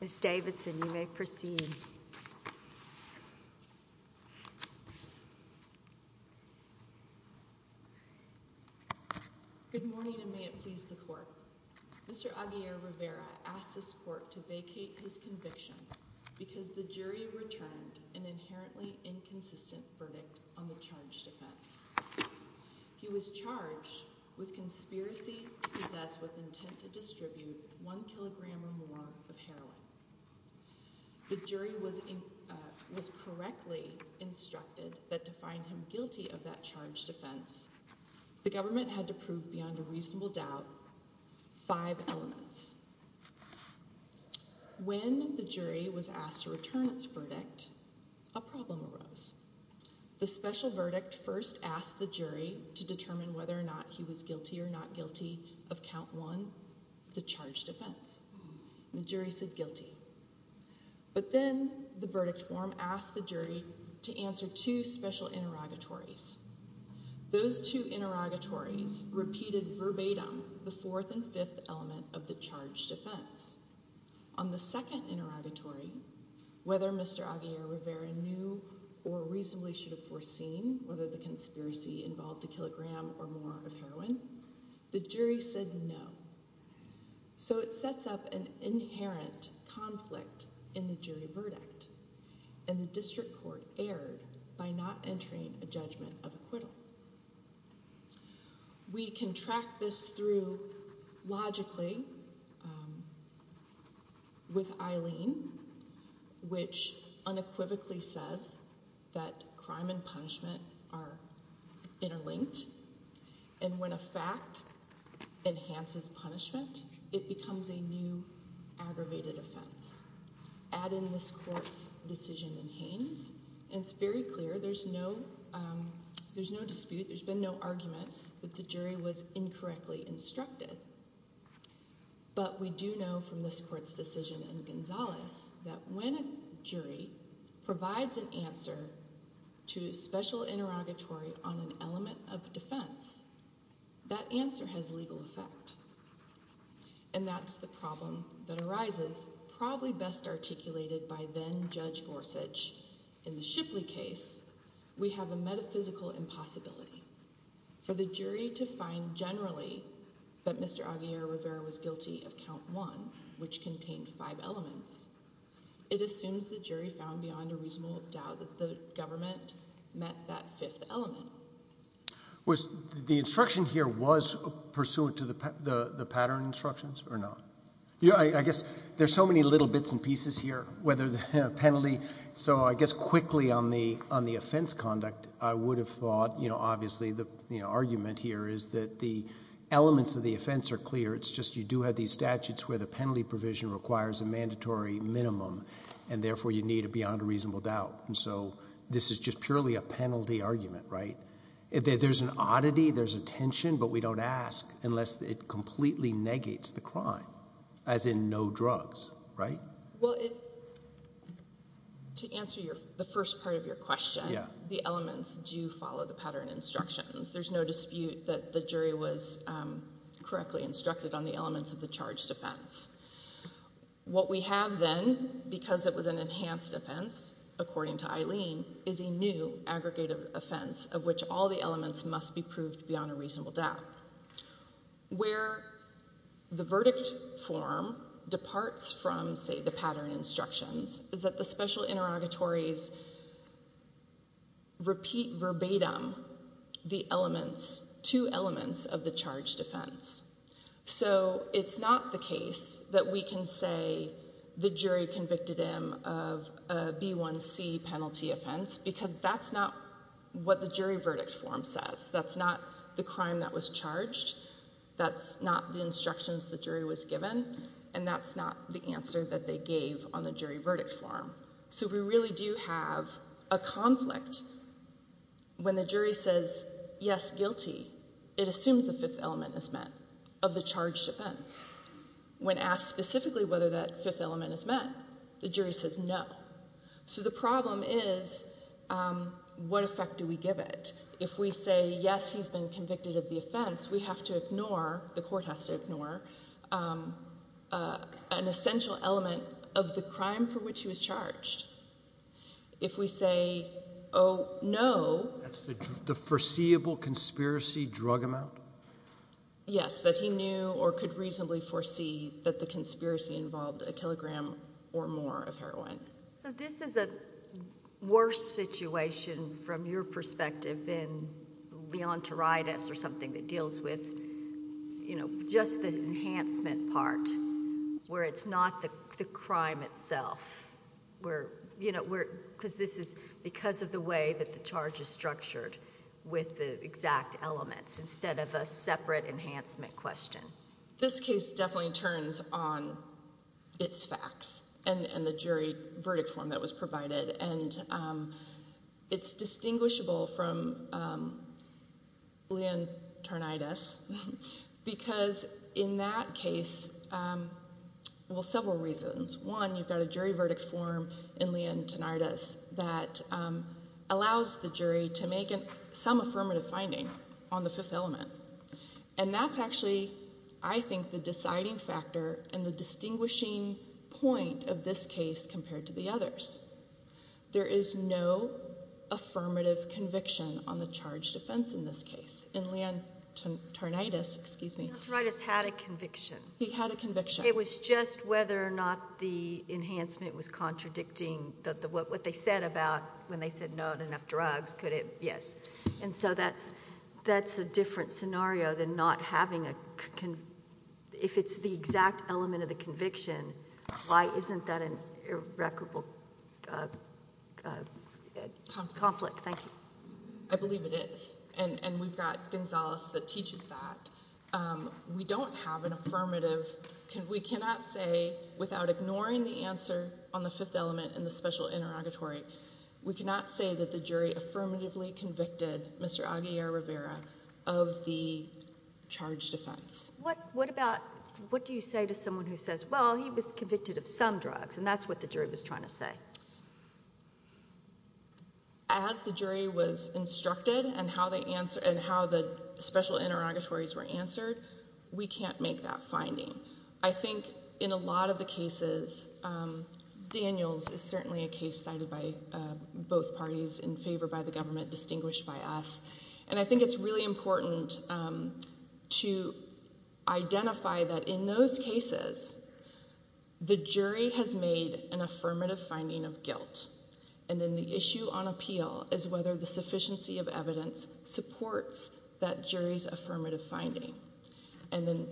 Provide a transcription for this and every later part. Ms. Davidson, you may proceed. Good morning and may it please the court. Mr. Aguirre-Rivera asked this court to vacate his conviction because the jury returned an inherently inconsistent verdict on the charge defense. He was charged with conspiracy to possess with intent to distribute one kilogram or more of heroin. The jury was was correctly instructed that to find him guilty of that charge defense the government had to prove beyond a reasonable doubt five elements. When the jury was asked to return its verdict, a problem arose. The special verdict first asked the jury to determine whether or not he was guilty or not guilty of count one, the charge defense. The jury said guilty, but then the verdict form asked the jury to answer two special interrogatories. Those two interrogatories repeated verbatim the fourth and fifth element of the charge defense. On the second interrogatory, whether Mr. Aguirre-Rivera knew or reasonably should have foreseen whether the conspiracy involved a kilogram or more of heroin, the jury said no. So it sets up an inherent conflict in the jury verdict and the district court erred by not entering a judgment of acquittal. We can track this through logically with Eileen, which unequivocally says that crime and punishment are interlinked and when a fact enhances punishment, it becomes a new aggravated offense. Add in this court's decision in Haines and it's very clear there's no dispute, there's been no argument that the jury was incorrectly instructed, but we do know from this court's decision in Gonzalez that when a jury provides an answer to special interrogatory on an element of defense, that answer has legal effect. And that's the problem that arises probably best articulated by then Judge Gorsuch in the Shipley case. We have a metaphysical impossibility. For the jury to find generally that Mr. Aguirre-Rivera was guilty of count one, which contained five elements, it assumes the jury found beyond a reasonable doubt that the government met that fifth element. Was the instruction here was pursuant to the pattern instructions or not? Yeah, I guess there's so many little bits and pieces here, whether the penalty, so I guess quickly on the offense conduct, I would have thought, you know, obviously the argument here is that the elements of the offense are clear, it's just you do have these statutes where the penalty provision requires a mandatory minimum and therefore you need a beyond a reasonable doubt. And so this is just purely a penalty argument, right? There's an oddity, there's a tension, but we don't ask unless it completely negates the crime, as in no drugs, right? Well, to answer the first part of your question, the elements do follow the pattern instructions. There's no dispute that the jury was correctly instructed on the elements of the charge defense. What we have then, because it was an enhanced offense according to Eileen, is a new aggregated offense of which all the elements must be proved beyond a reasonable doubt. Where the verdict form departs from, say, the pattern instructions is that the special interrogatories repeat verbatim the elements, two elements of the charge defense. So it's not the case that we can say the jury convicted him of a B1C penalty offense because that's not what the jury was charged, that's not the instructions the jury was given, and that's not the answer that they gave on the jury verdict form. So we really do have a conflict when the jury says yes, guilty, it assumes the fifth element is met of the charge defense. When asked specifically whether that fifth element is met, the jury says no. So the problem is what effect do we give it? If we say yes, he's been convicted of the offense, we have to ignore, the court has to ignore, an essential element of the crime for which he was charged. If we say, oh, no. That's the foreseeable conspiracy drug amount? Yes, that he knew or could reasonably foresee that the conspiracy involved a kilogram or more of heroin. So this is a worse situation from your perspective than leontoritis or something that deals with just the enhancement part where it's not the crime itself because this is because of the way that the charge is structured with the exact elements instead of a separate enhancement question. This case definitely turns on its facts and the jury verdict form that was provided, and it's distinguishable from leontoritis because in that case, well, several reasons. One, you've got a jury verdict form in leontoritis that allows the jury to make some affirmative finding on the fifth element. And that's actually, I think, the deciding factor and the distinguishing point of this case compared to the others. There is no affirmative conviction on the charge defense in this case. In leontoritis, excuse me. Leontoritis had a conviction. He had a conviction. It was just whether or not the enhancement was contradicting what they said about when they said no to enough drugs. Could it? Yes. And so that's a different scenario than not having a conviction. If it's the exact element of the conviction, why isn't that an irreparable conflict? Thank you. I believe it is. And we've got Gonzales that teaches that. We don't have an affirmative. We cannot say without ignoring the answer on the fifth element in the special interrogatory, we cannot say that the jury affirmatively convicted Mr. Aguilar Rivera of the charge defense. What about, what do you say to someone who says, well, he was convicted of some drugs? And that's what the jury was trying to say. As the jury was instructed and how they answer and how the special interrogatories were answered, we can't make that finding. I think in a lot of the cases, Daniels is certainly a case cited by both parties in favor by the government, distinguished by us. And I think it's really important to identify that in those cases, the jury has made an affirmative finding of guilt. And then the issue on appeal is whether the sufficiency of evidence supports that jury's conviction. And then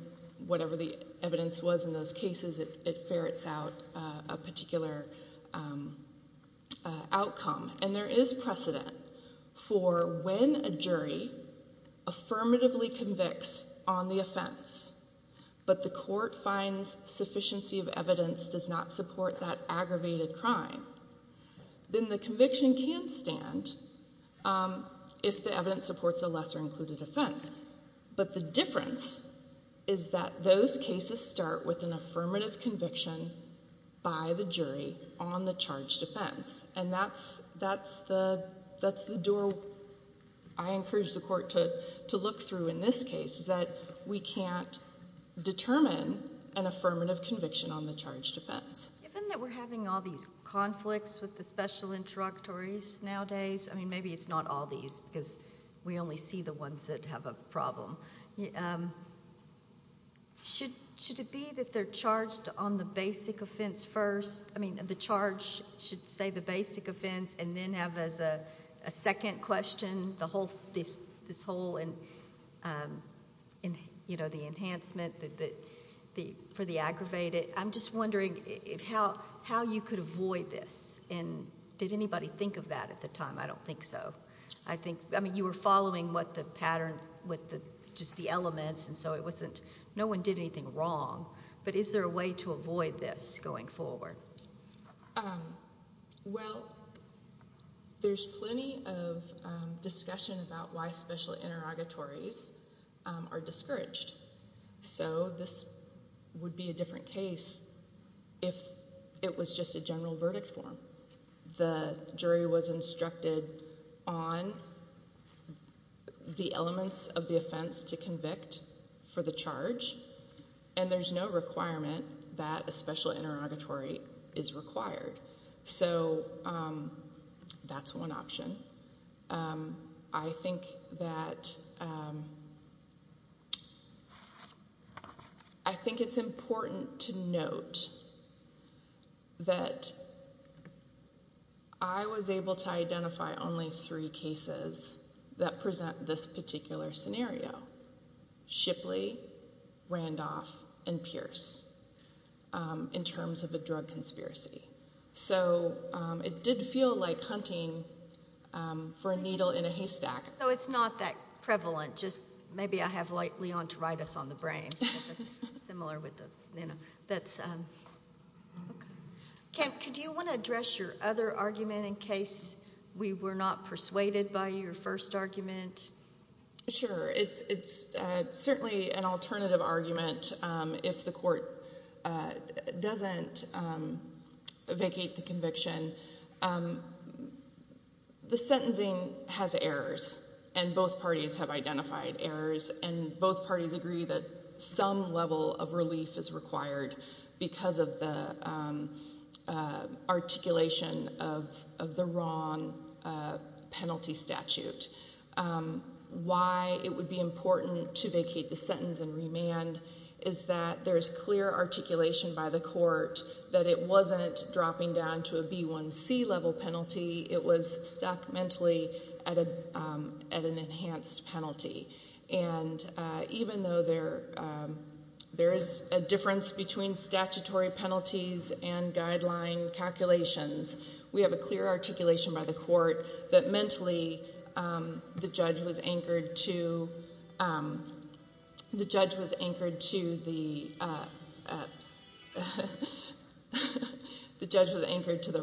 whatever the evidence was in those cases, it ferrets out a particular outcome. And there is precedent for when a jury affirmatively convicts on the offense, but the court finds sufficiency of evidence does not support that aggravated crime, then the conviction can stand if the evidence supports a lesser included offense. But the difference is that those cases start with an affirmative conviction by the jury on the charge defense. And that's the door I encourage the court to look through in this case, is that we can't determine an affirmative conviction on the charge defense. Given that we're having all these conflicts with the special interrogatories nowadays, I mean, maybe it's not all these because we only see the ones that have a problem. Should it be that they're charged on the basic offense first? I mean, the charge should say the basic offense and then have as a second question this whole, you know, the enhancement for the aggravated. I'm just wondering how you could avoid this. And did anybody think of that at the time? I don't think so. I think, I mean, you were following what the pattern, what the, just the elements, and so it wasn't, no one did anything wrong. But is there a way to avoid this going forward? Well, there's plenty of discussion about why special interrogatories are discouraged. So this would be a different case if it was just a general verdict form. The jury was instructed on the elements of the offense to convict for the charge, and there's no requirement that a special interrogatory is required. So that's one option. I think that, I think it's important to note that I was able to identify only three cases that present this particular scenario, Shipley, Randolph, and Pierce, in terms of a drug conspiracy. So it did feel like hunting for a needle in a haystack. So it's not that prevalent, just maybe I have light leontoritis on the brain, similar with the, you know, that's, okay. Kemp, could you want to address your other argument in case we were not persuaded by your first argument? Sure. It's certainly an alternative argument if the court doesn't vacate the conviction. The sentencing has errors, and both parties have identified errors, and both parties agree that some level of relief is required because of the articulation of the wrong penalty statute. Why it would be important to vacate the sentence and remand is that there's clear articulation by the court that it wasn't dropping down to a B1c level penalty. It was stuck mentally at an enhanced penalty. And even though there is a difference between statutory penalties and guideline calculations, we have a clear articulation by the court that mentally the judge was anchored to the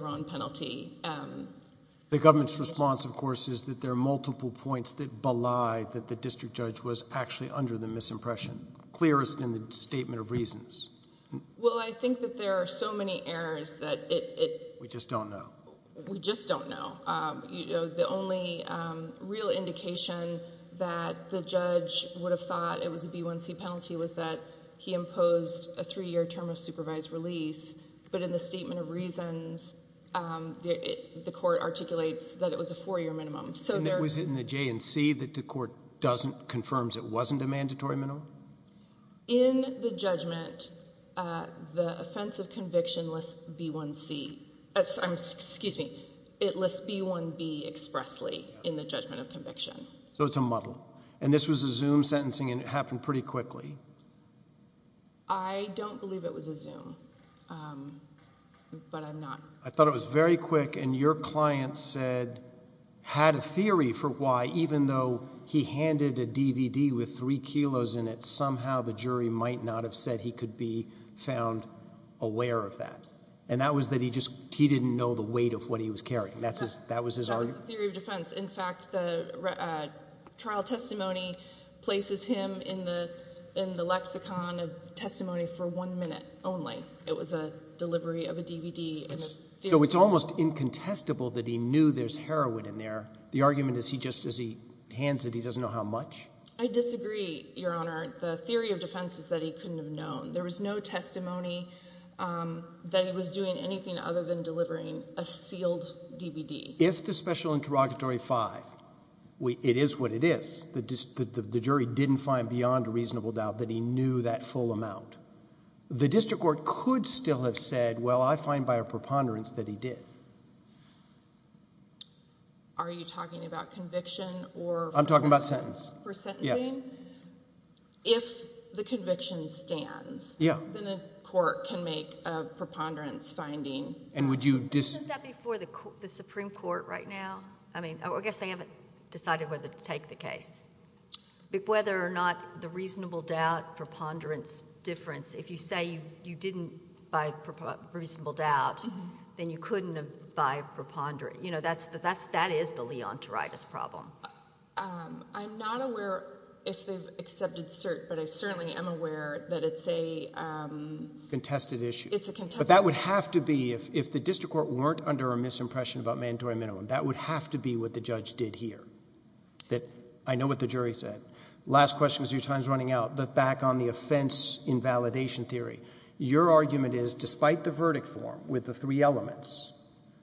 wrong penalty. The government's response, of course, is that there are multiple points that belie that the district judge was actually under the misimpression, clearest in the statement of reasons. Well, I think that there are so many errors that we just don't know. We just don't know. The only real indication that the judge would have thought it was a B1c penalty was that he imposed a three-year term of supervised release, but in the statement of reasons, the court articulates that it was a four-year minimum. And was it in the J&C that the court confirms it wasn't a mandatory minimum? In the judgment, the offense of conviction lists B1c, excuse me, it lists B1b expressly in the judgment of conviction. So it's a muddle. And this was a Zoom sentencing and it happened pretty quickly. I don't believe it was a Zoom, but I'm not. I thought it was very quick and your client said, had a theory for why, even though he handed a DVD with three kilos in it, somehow the jury might not have said he could be found aware of that. And that was that he just, he didn't know the weight of what he was carrying. That was his argument? That was the theory of defense. In fact, the trial testimony places him in the lexicon of testimony for one minute only. It was a delivery of a DVD. So it's almost incontestable that he knew there's heroin in there. The argument is he just, as he hands it, he doesn't know how much? I disagree, Your Honor. The theory of defense is that he couldn't have known. There was no testimony that he was doing anything other than delivering a sealed DVD. If the special interrogatory five, it is what it is. The jury didn't find beyond a reasonable doubt that he knew that full amount. The district court could still have said, well, I find by a preponderance that he did. Are you talking about conviction or? I'm talking about sentence. For sentencing? Yes. If the conviction stands. Yeah. Then a court can make a preponderance finding. And would you dis- Isn't that before the Supreme Court right now? I mean, I guess they haven't decided whether to preponderance difference. If you say you didn't by reasonable doubt, then you couldn't have by preponderance. That is the Leonteritis problem. I'm not aware if they've accepted cert, but I certainly am aware that it's a- Contested issue. It's a contested issue. But that would have to be, if the district court weren't under a misimpression about mandatory minimum, that would have to be what the judge did here. I know what the jury said. Last question as your time's running out, but back on the offense invalidation theory, your argument is, despite the verdict form with the three elements,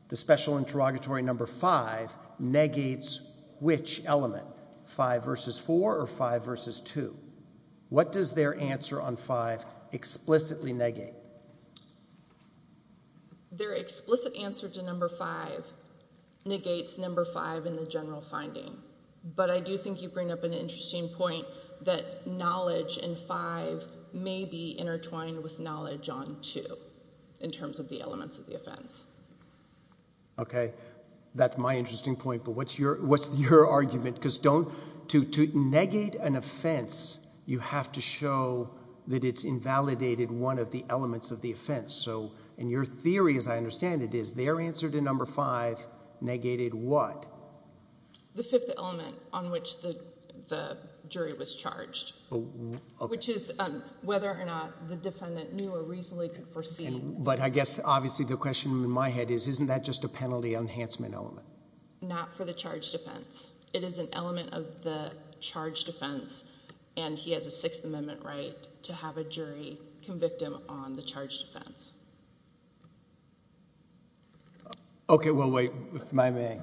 the special interrogatory number five negates which element? Five versus four or five versus two? What does their answer on five explicitly negate? Their explicit answer to number five negates number five in the general finding. But I do think you bring up an interesting point that knowledge in five may be intertwined with knowledge on two in terms of the elements of the offense. Okay. That's my interesting point, but what's your argument? Because to negate an offense, you have to show that it's invalidated one of the elements of the offense. So in your theory, as I understand it, is their answer to number five negated what? The fifth element on which the jury was charged, which is whether or not the defendant knew or reasonably could foresee. But I guess obviously the question in my head is, isn't that just a penalty enhancement element? Not for the charge defense. It is an element of the charge defense and he has a Sixth Amendment right to have a jury convict him on the charge defense. Okay. Well, wait, if I may.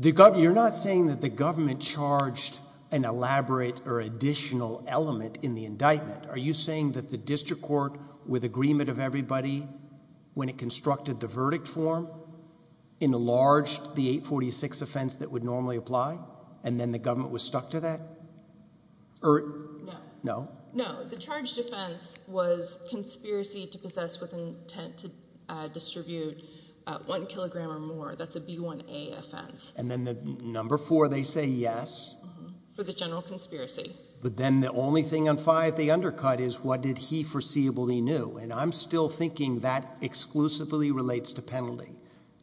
You're not saying that the government charged an elaborate or additional element in the indictment. Are you saying that the district court with agreement of everybody, when it constructed the verdict form, enlarged the 846 offense that would normally apply and then the government was stuck to that? No. No. No. The charge defense was conspiracy to possess with intent to distribute one kilogram or more. That's a B1A offense. And then the number four, they say yes? For the general conspiracy. But then the only thing on five they undercut is what did he foreseeably knew? And I'm still thinking that exclusively relates to penalty.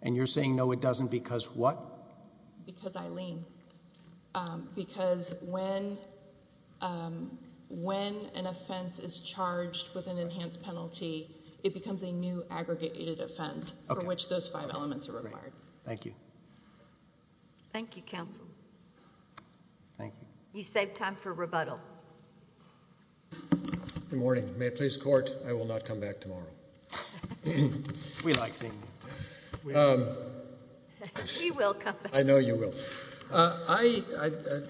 And you're saying no, it doesn't because what? Because I lean. Because when an offense is charged with an enhanced penalty, it becomes a new aggregated offense for which those five elements are required. Thank you. Thank you, counsel. Thank you. You saved time for rebuttal. Good morning. May it please the court, I will not come back tomorrow. We like seeing you. We will come back. I know you will. The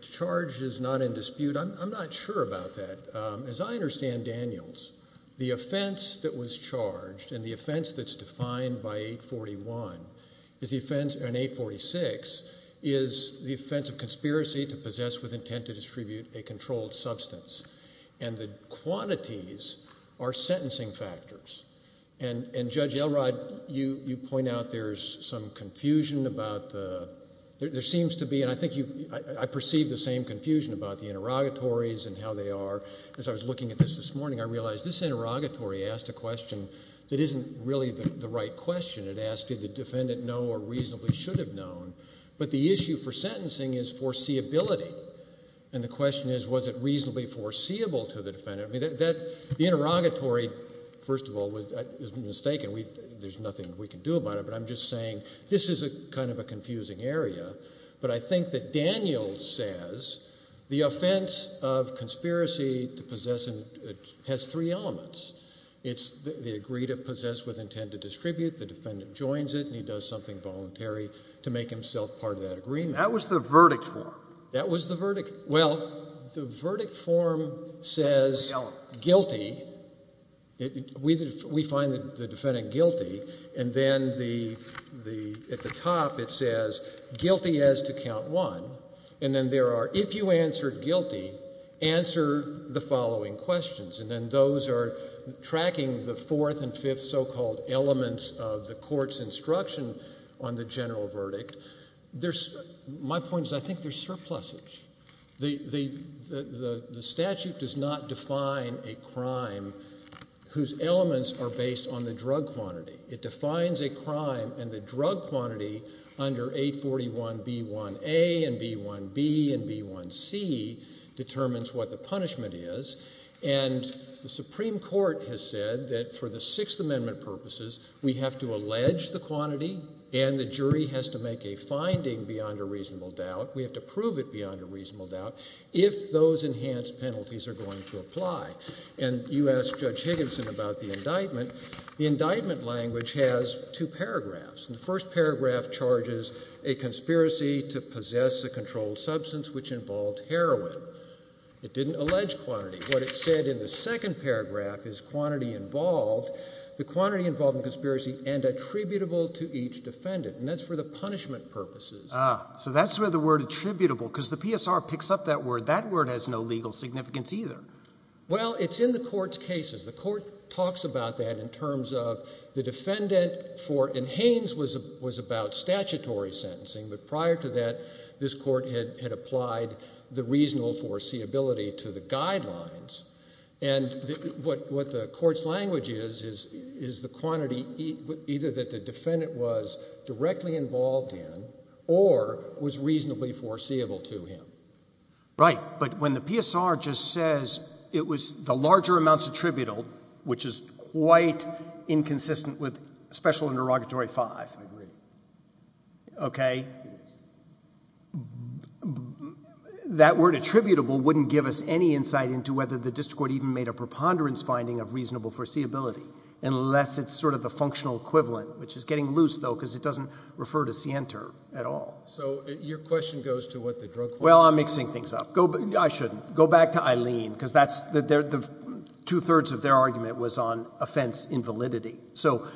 charge is not in dispute. I'm not sure about that. As I understand, Daniels, the offense that was charged and the offense that's defined by 841 is the offense in 846 is the offense of conspiracy to possess with intent to distribute a controlled substance. And the quantities are sentencing factors. And Judge Elrod, you point out there's some confusion about the, there seems to be, and I think you, I perceive the same confusion about the interrogatories and how they are. As I was looking at this this morning, I realized this interrogatory asked a question that isn't really the right question. It asked did the defendant know or reasonably should have known. But the issue for sentencing is foreseeability. And the question is was it foreseeable to the defendant. I mean, the interrogatory, first of all, is mistaken. There's nothing we can do about it. But I'm just saying this is kind of a confusing area. But I think that Daniels says the offense of conspiracy to possess has three elements. It's the agreed to possess with intent to distribute. The defendant joins it and he does something voluntary to make himself part of that agreement. That was the verdict form. That was the verdict. Well, the verdict form says guilty. We find the defendant guilty. And then at the top it says guilty as to count one. And then there are if you answer guilty, answer the following questions. And then those are tracking the fourth and fifth so-called elements of the court's instruction on the general verdict. There's, my point is I think there's surplusage. The statute does not define a crime whose elements are based on the drug quantity. It defines a crime and the drug quantity under 841B1A and B1B and B1C determines what the punishment is. And the Supreme Court has said that for the Sixth Amendment purposes, we have to allege the quantity and the jury has to make a finding beyond a reasonable doubt. We have to prove it beyond a reasonable doubt if those enhanced penalties are going to apply. And you asked Judge Higginson about the indictment. The indictment language has two paragraphs. The first paragraph charges a conspiracy to possess a controlled substance which involved heroin. It didn't allege quantity. What it said in the second paragraph is quantity involved. The quantity involved in conspiracy and attributable to each defendant. And that's for the punishment purposes. Ah, so that's where the word attributable, because the PSR picks up that word. That word has no legal significance either. Well, it's in the court's cases. The court talks about that in terms of the defendant for, and Haines was about statutory sentencing, but prior to that this court had applied the reasonable foreseeability to the guidelines. And what the court's language is, is the quantity either that the defendant was directly involved in, or was reasonably foreseeable to him. Right. But when the PSR just says it was the larger amounts attributable, which is quite inconsistent with Special Interrogatory 5. I agree. Okay. That word attributable wouldn't give us any insight into whether the district court even made a preponderance finding of reasonable foreseeability, unless it's sort of the functional equivalent, which is getting loose though, because it doesn't refer to scienter at all. So your question goes to what the drug court... Well, I'm mixing things up. I shouldn't. Go back to Eileen, because that's, the two-thirds of their argument was on offense invalidity. So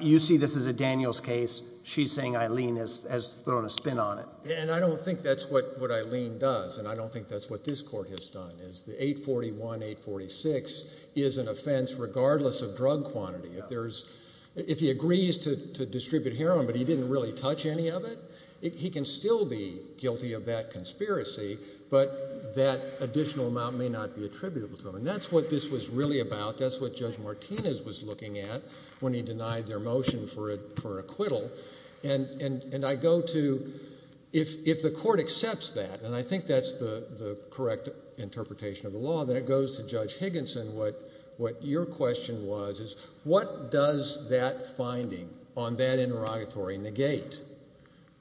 you see this as a Daniels case. She's saying Eileen has thrown a spin on it. And I don't think that's what Eileen does, and I don't think that's what this court has done, is the 841-846 is an offense regardless of drug quantity. If there's, if he agrees to distribute heroin, but he didn't really touch any of it, he can still be guilty of that conspiracy, but that additional amount may not be attributable to him. And that's what this was really about. That's what Judge Martinez was looking at when he denied their motion for acquittal. And I go to, if the court accepts that, and I think that's the correct interpretation of the law, then it goes to Judge Higginson. What your question was is, what does that finding on that interrogatory negate?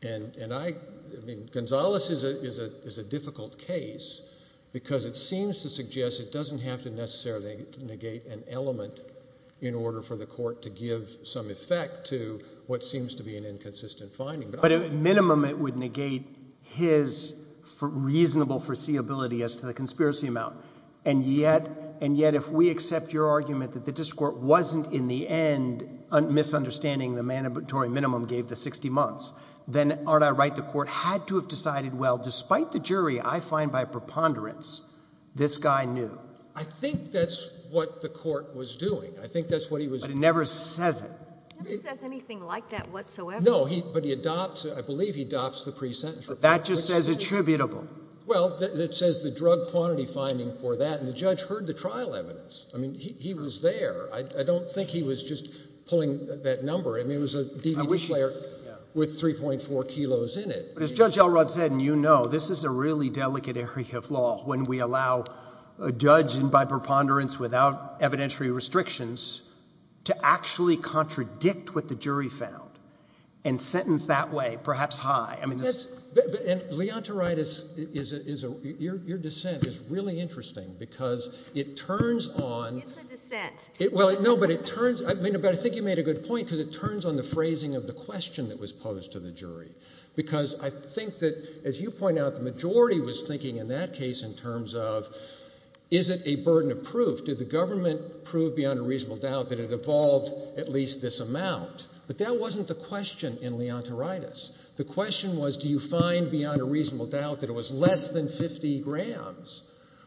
And I, I mean, Gonzales is a difficult case, because it seems to suggest it doesn't have to necessarily negate an element in order for the court to give some effect to what seems to be an inconsistent finding. But at minimum, it would negate his reasonable foreseeability as to the conspiracy amount. And yet, and yet if we accept your argument that the district court wasn't in the end misunderstanding the mandatory minimum gave the 60 months, then aren't I right, the court had to have decided, well, despite the jury, I find by preponderance this guy knew? I think that's what the court was doing. I think that's what he was doing. But it never says it. It never says anything like that whatsoever. No, but he adopts, I believe he adopts the pre-sentence report. That just says attributable. Well, it says the drug quantity finding for that, and the judge heard the trial evidence. I mean, he was there. I don't think he was just pulling that number. I mean, it was a DVD player with 3.4 kilos in it. But as a really delicate area of law, when we allow a judge, and by preponderance without evidentiary restrictions, to actually contradict what the jury found, and sentence that way, perhaps high. I mean, that's, and Leontoritis is a, your dissent is really interesting, because it turns on. It's a dissent. Well, no, but it turns, I mean, but I think you made a good point, because it turns on the phrasing of the question that was posed to the jury. Because I think that as you point out, the majority was thinking in that case in terms of, is it a burden of proof? Did the government prove beyond a reasonable doubt that it evolved at least this amount? But that wasn't the question in Leontoritis. The question was, do you find beyond a reasonable doubt that it was less than 50 grams?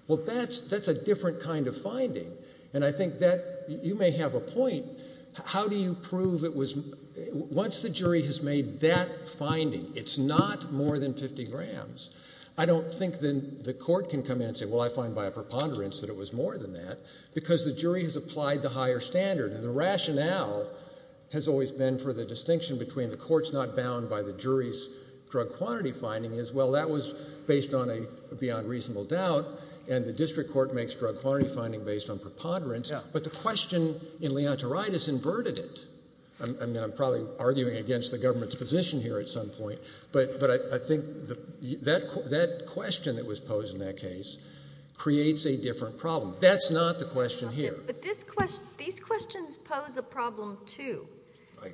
Well, that's a different kind of finding. And I think that, you may have a point, how do you prove it was, once the jury has made that finding, it's not more than 50 grams, I don't think then the court can come in and say, well, I find by a preponderance that it was more than that, because the jury has applied the higher standard. And the rationale has always been for the distinction between the court's not bound by the jury's drug quantity finding as, well, that was based on a beyond reasonable doubt, and the district court makes drug quantity finding based on preponderance, but the question in Leontoritis inverted it. I'm probably arguing against the government's position here at some point, but I think that question that was posed in that case creates a different problem. That's not the question here. But these questions pose a problem too,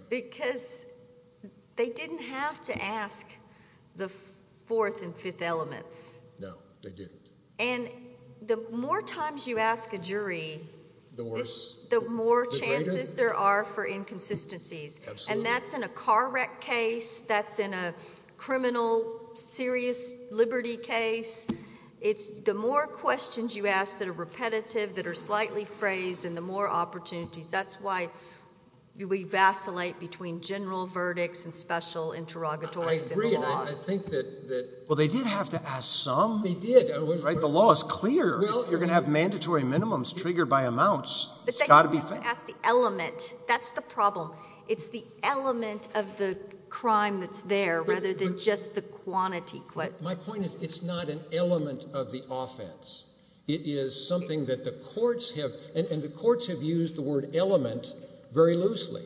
because they didn't have to ask the fourth and fifth elements. No, they didn't. And the more times you ask a jury, the more chances there are for inconsistencies, and that's in a car wreck case, that's in a criminal serious liberty case. It's the more questions you ask that are repetitive, that are slightly phrased, and the more opportunities. That's why we vacillate between general verdicts and special interrogatories. I agree, and I think Well, they did have to ask some. They did. The law is clear. You're going to have mandatory minimums triggered by amounts. But they didn't have to ask the element. That's the problem. It's the element of the crime that's there rather than just the quantity. My point is it's not an element of the offense. It is something that the courts have, and the courts have used the word very loosely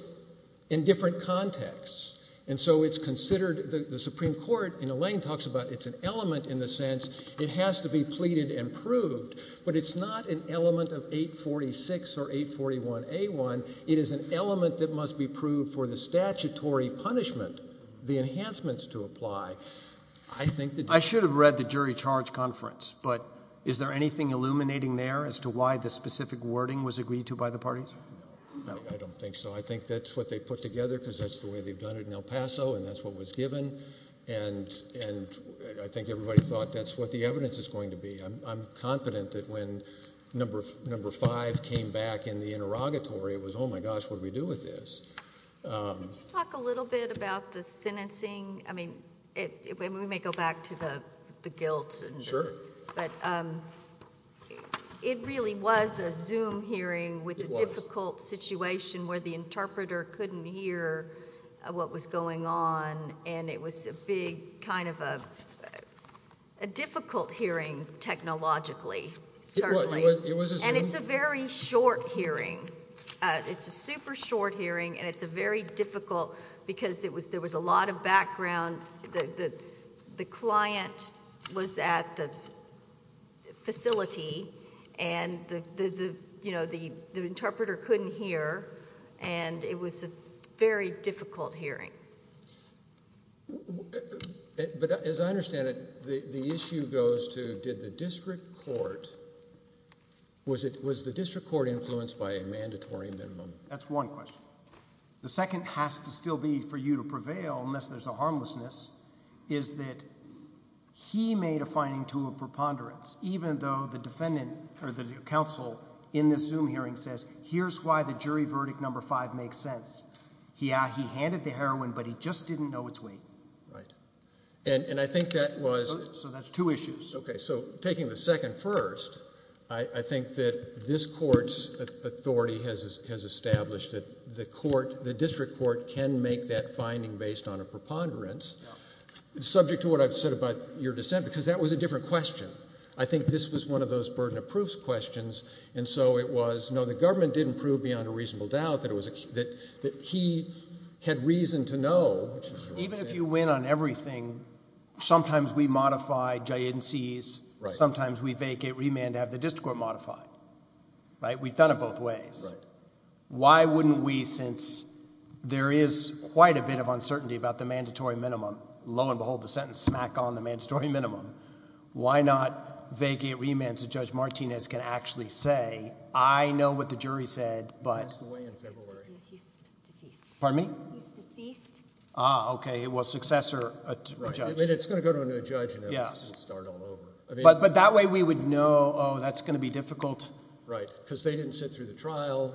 in different contexts. And so it's considered, the Supreme Court, and Elaine talks about it's an element in the sense it has to be pleaded and proved, but it's not an element of 846 or 841A1. It is an element that must be proved for the statutory punishment, the enhancements to apply. I should have read the jury charge conference, but is there anything illuminating there as to why the specific wording was agreed to by the parties? I don't think so. I think that's what they put together because that's the way they've done it in El Paso, and that's what was given. And I think everybody thought that's what the evidence is going to be. I'm confident that when number five came back in the interrogatory, it was, oh my gosh, what do we do with this? Could you talk a little bit about the sentencing? I mean, we may back to the guilt, but it really was a Zoom hearing with a difficult situation where the interpreter couldn't hear what was going on, and it was a big kind of a difficult hearing technologically, certainly. And it's a very short hearing. It's a super short hearing, and it's a very difficult because there was a lot of background. The client was at the facility, and the interpreter couldn't hear, and it was a very difficult hearing. But as I understand it, the issue goes to did the district court... was the district court influenced by a mandatory minimum? That's one question. The second has to still be for you to prevail unless there's a harmlessness, is that he made a finding to a preponderance, even though the defendant or the counsel in this Zoom hearing says, here's why the jury verdict number five makes sense. Yeah, he handed the heroin, but he just didn't know its weight. Right. And I think that was... So that's two issues. Okay. So taking the second first, I think that this court's authority has established that the district court can make that finding based on a preponderance, subject to what I've said about your dissent, because that was a different question. I think this was one of those burden of proof questions, and so it was, no, the government didn't prove beyond a reasonable doubt that he had reason to know. Even if you win on everything, sometimes we modify giantes, sometimes we vacate remand to have the district court modified, right? We've done it both ways. Why wouldn't we, since there is quite a bit of uncertainty about the mandatory minimum, lo and behold, the sentence smack on the mandatory minimum, why not vacate remand so Judge Martinez can actually say, I know what the jury said, but... He passed away in February. He's deceased. Pardon me? He's deceased. Ah, okay. Well, successor, a judge... Right. I mean, it's going to go to a new judge, you know. Yes. Start all over. I mean... But that way we would know, oh, that's going to be difficult. Right. Because they didn't sit through the trial,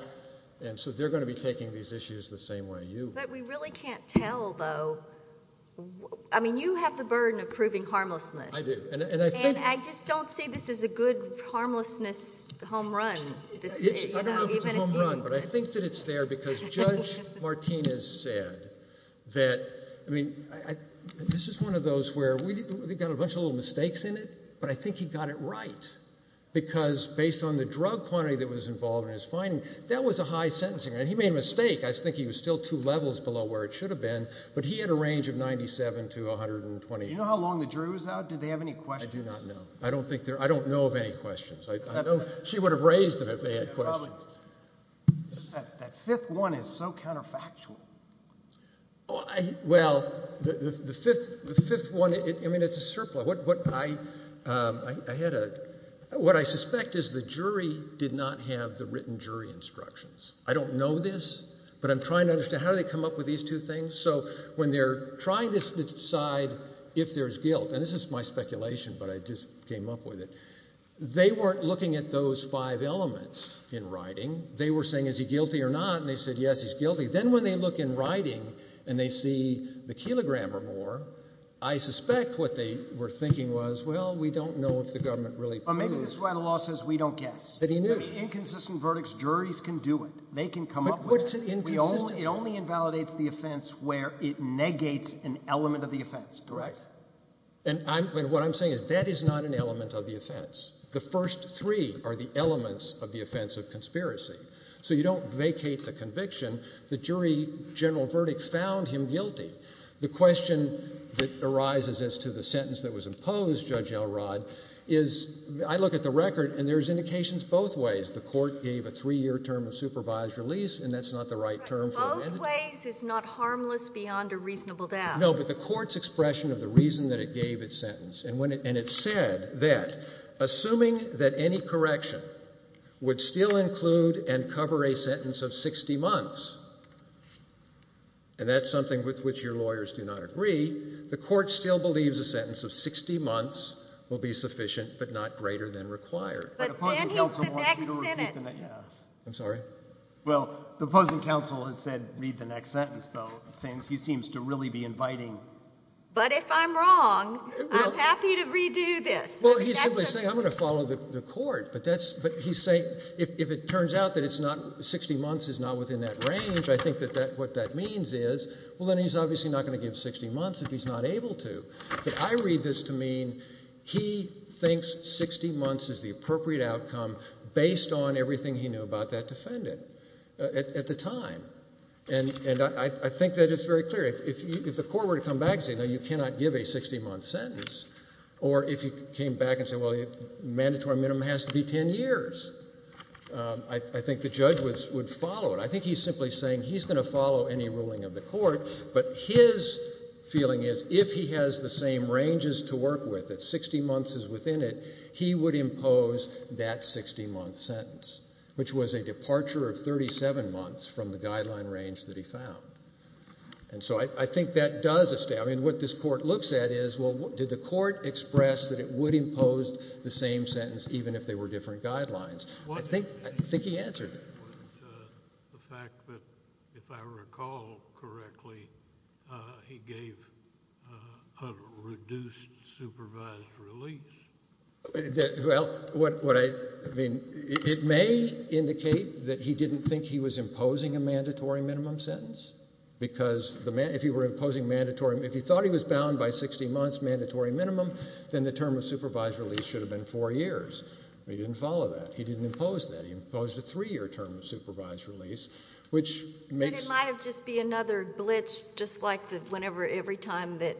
and so they're going to be taking these issues the same way you... But we really can't tell, though. I mean, you have the burden of proving harmlessness. I do. And I think... And I just don't see this as a good harmlessness home run. I don't know if it's a home run, but I think that it's there because Judge Martinez said that... I mean, this is one of those where we've got a bunch of little mistakes in it, but I think he got it right, because based on the drug quantity that was involved in his finding, that was a high sentencing. And he made a mistake. I think he was still two levels below where it should have been, but he had a range of 97 to 128. Do you know how long the jury was out? Did they have any questions? I do not know. I don't think they're... I don't know of any questions. I don't... She would have raised them if they had questions. Probably. That fifth one is so counterfactual. Well, the fifth one, I mean, it's a surplus. What I had a... What I suspect is the jury did not have the written jury instructions. I don't know this, but I'm trying to understand how they come up with these two things. So when they're trying to decide if there's guilt, and this is my speculation, but I just came up with it, they weren't looking at those five elements in writing. They were saying, is he guilty or not? And they said, yes, he's guilty. Then when they look in writing and they see the kilogram or more, I suspect what they were thinking was, well, we don't know if the government really... Maybe this is why the law says we don't guess. But he knew. Inconsistent verdicts, juries can do it. They can come up with it. But what's it inconsistent... It only invalidates the offense where it negates an element of the offense. Correct. And what I'm saying is that is not an element of the offense. The first three are the elements of the offense of conspiracy. So you don't vacate the conviction. The jury general verdict found him guilty. The question that arises as to the sentence that was imposed, Judge Elrod, is I look at the record and there's indications both ways. The court gave a three-year term supervised release, and that's not the right term for... Both ways is not harmless beyond a reasonable death. No, but the court's expression of the reason that it gave its sentence. And it said that, assuming that any correction would still include and cover a sentence of 60 months, and that's something with which your lawyers do not agree, the court still believes a sentence of 60 months will be sufficient but not greater than required. But then he's the next sentence. I'm sorry? Well, the opposing counsel has said read the next sentence, though, saying he seems to really be inviting... But if I'm wrong, I'm happy to redo this. Well, he's simply saying I'm going to follow the court. But he's saying if it turns out that 60 months is not within that range, I think that what that means is, well, then he's obviously not going to give 60 months if he's not able to. But I read this to mean he thinks 60 months is the about that defendant at the time. And I think that it's very clear. If the court were to come back and say, no, you cannot give a 60-month sentence, or if he came back and said, well, mandatory minimum has to be 10 years, I think the judge would follow it. I think he's simply saying he's going to follow any ruling of the court. But his feeling is, if he has the same ranges to work with, that 60 months is within it, he would impose that 60-month sentence, which was a departure of 37 months from the guideline range that he found. And so I think that does... I mean, what this court looks at is, well, did the court express that it would impose the same sentence even if they were different guidelines? I think he answered. What about the fact that, if I recall correctly, he gave a reduced supervised release? Well, what I... I mean, it may indicate that he didn't think he was imposing a mandatory minimum sentence, because if you were imposing mandatory... if he thought he was bound by 60 months mandatory minimum, then the term of supervised release should have been four years. He didn't follow that. He didn't impose that. He imposed a three-year term of supervised release, which... And it might have just been another glitch, just like the whenever... every time that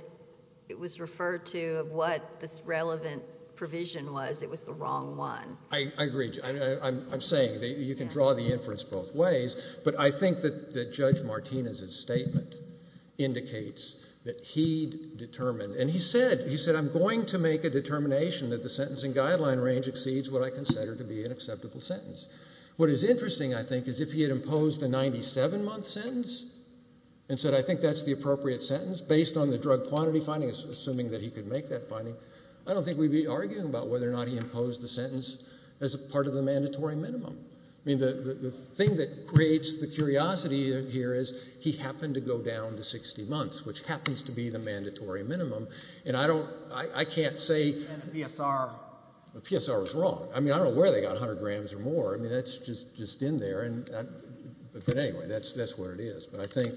it was referred to of what this relevant provision was, it was the wrong one. I agree. I'm saying that you can draw the inference both ways, but I think that Judge Martinez's statement indicates that he determined... and he said, he said, I'm going to make a determination that the sentencing guideline range exceeds what I consider to be an acceptable sentence. What is interesting, I think, is if he had imposed a 97-month sentence and said, I think that's the appropriate sentence, based on the drug quantity finding, assuming that he could make that finding, I don't think we'd be arguing about whether or not he imposed the sentence as a part of the mandatory minimum. I mean, the thing that creates the curiosity here is he happened to go down to 60 months, which happens to be the mandatory minimum, and I don't... I can't say... And the PSR. The PSR was wrong. I mean, I don't know where they got 100 grams or more. I mean, that's just in there. But anyway, that's where it is. But I think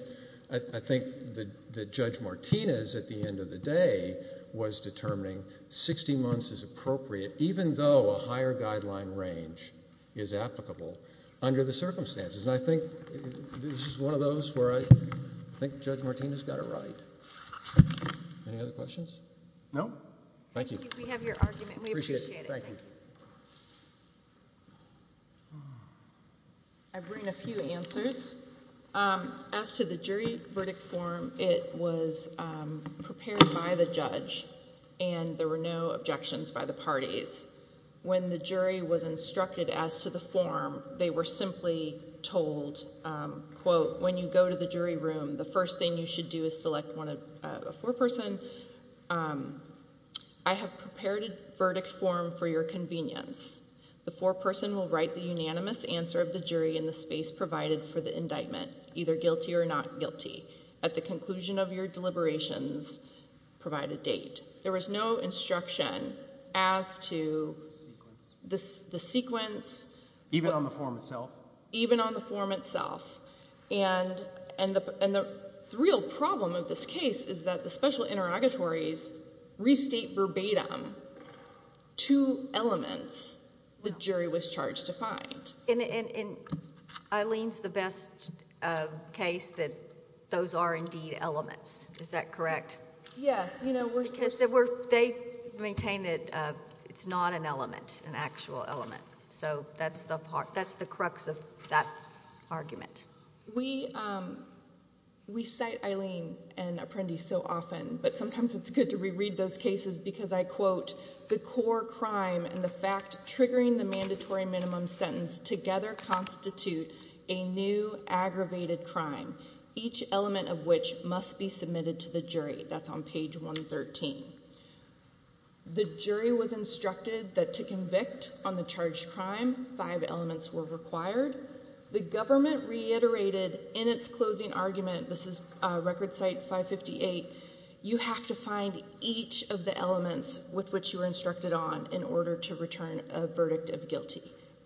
that Judge Martinez, at the end of the day, was determining 60 months is appropriate, even though a higher guideline range is applicable under the circumstances. And I think this is one of those where I think Judge Martinez got it right. Any other questions? No. Thank you. We have your argument, and we appreciate it. Thank you. I bring a few answers. As to the jury verdict form, it was prepared by the judge, and there were no objections by the parties. When the jury was instructed as to the form, they were simply told, quote, when you go to the jury room, the first thing you should do is select a foreperson. I have prepared a verdict form for your convenience. The foreperson will write the unanimous answer of the jury in the space provided for the indictment, either guilty or not guilty. At the conclusion of your deliberations, provide a date. There was no instruction as to the sequence. Even on the form itself? Even on the form itself. And the real problem of this case is that the special interrogatories restate verbatim two elements the jury was charged to find. And Eileen's the best case that those are indeed elements. Is that correct? Yes. They maintain that it's not an element, an actual element. So that's the crux of that argument. We cite Eileen and Apprendi so often, but sometimes it's good to reread those cases because I quote, the core crime and the fact triggering the mandatory minimum sentence together constitute a new aggravated crime, each element of which must be submitted to the jury. That's on page 113. The jury was instructed that to convict on the charged crime, five elements were required. The government reiterated in its closing argument, this is record site 558, you have to find each of the elements with which you were instructed on in order to return a verdict of guilty.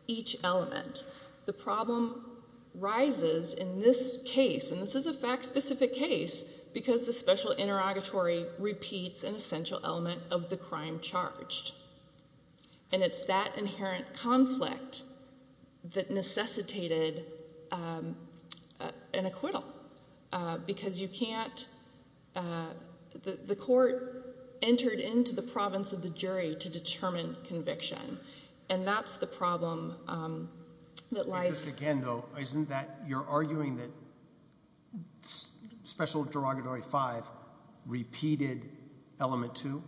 Each element. The problem rises in this case, and this is a fact specific case, because the special interrogatory repeats an essential element of the crime charged. And it's that inherent conflict that necessitated an acquittal, because you can't, the court entered into the province of the jury to determine conviction. And that's the problem that lies- Isn't that, you're arguing that special interrogatory five repeated element two?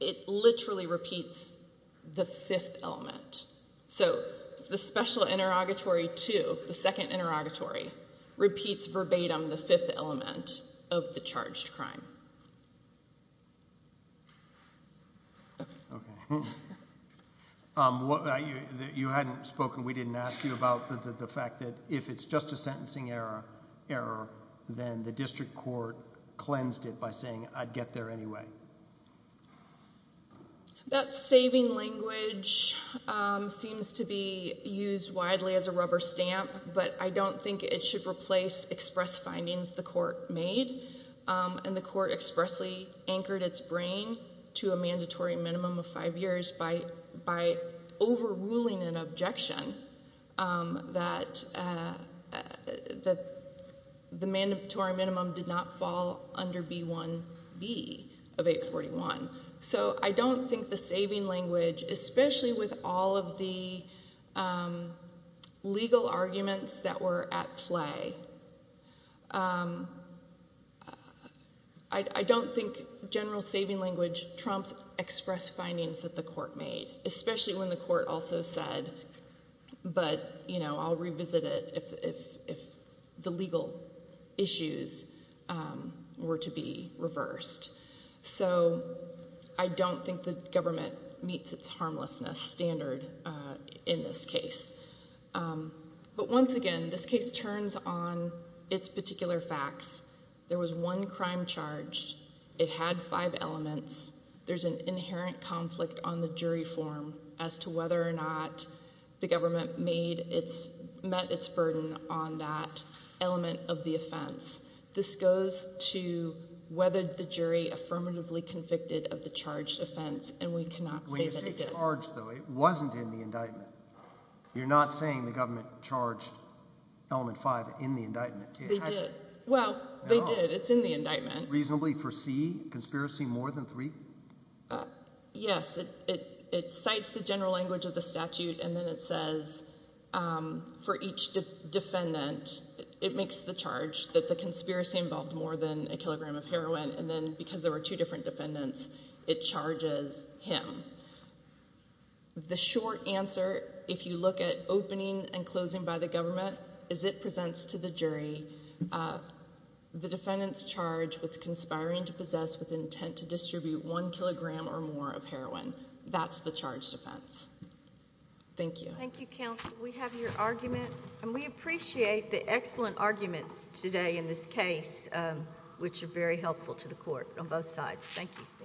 It literally repeats the fifth element. So the special interrogatory two, the second interrogatory, repeats verbatim the fifth element of the charged crime. Okay. You hadn't spoken, we didn't ask you about the fact that if it's just a sentencing error, then the district court cleansed it by saying, I'd get there anyway. That saving language seems to be used widely as a rubber stamp, but I don't think it should place expressed findings the court made. And the court expressly anchored its brain to a mandatory minimum of five years by overruling an objection that the mandatory minimum did not fall under B1B of 841. So I don't think the saving language, especially with all of the legal arguments that were at play, I don't think general saving language trumps express findings that the court made, especially when the court also said, but I'll revisit it if the legal issues were to be reversed. So I don't think the government meets its harmlessness standard in this case. But once again, this case turns on its particular facts. There was one crime charged. It had five elements. There's an inherent conflict on the jury form as to whether or not the government met its burden on that element of the offense. This goes to whether the jury affirmatively convicted of the charged offense, and we cannot say that it did. When you say charged, though, it wasn't in the indictment. You're not saying the government charged element five in the indictment. They did. Well, they did. It's in the indictment. Reasonably for C, conspiracy more than three? Yes. It cites the general language of the statute, and then it says for each defendant, it makes the charge that the conspiracy involved more than a kilogram of heroin, and then because there were two different defendants, it charges him. The short answer, if you look at opening and closing by the government, is it presents to the jury a defendant's charge with conspiring to possess with intent to distribute one kilogram or more of heroin. That's the charged offense. Thank you. Thank you, counsel. We have your argument, and we appreciate the excellent arguments today in this case, which are very helpful to the court on both sides. Thank you.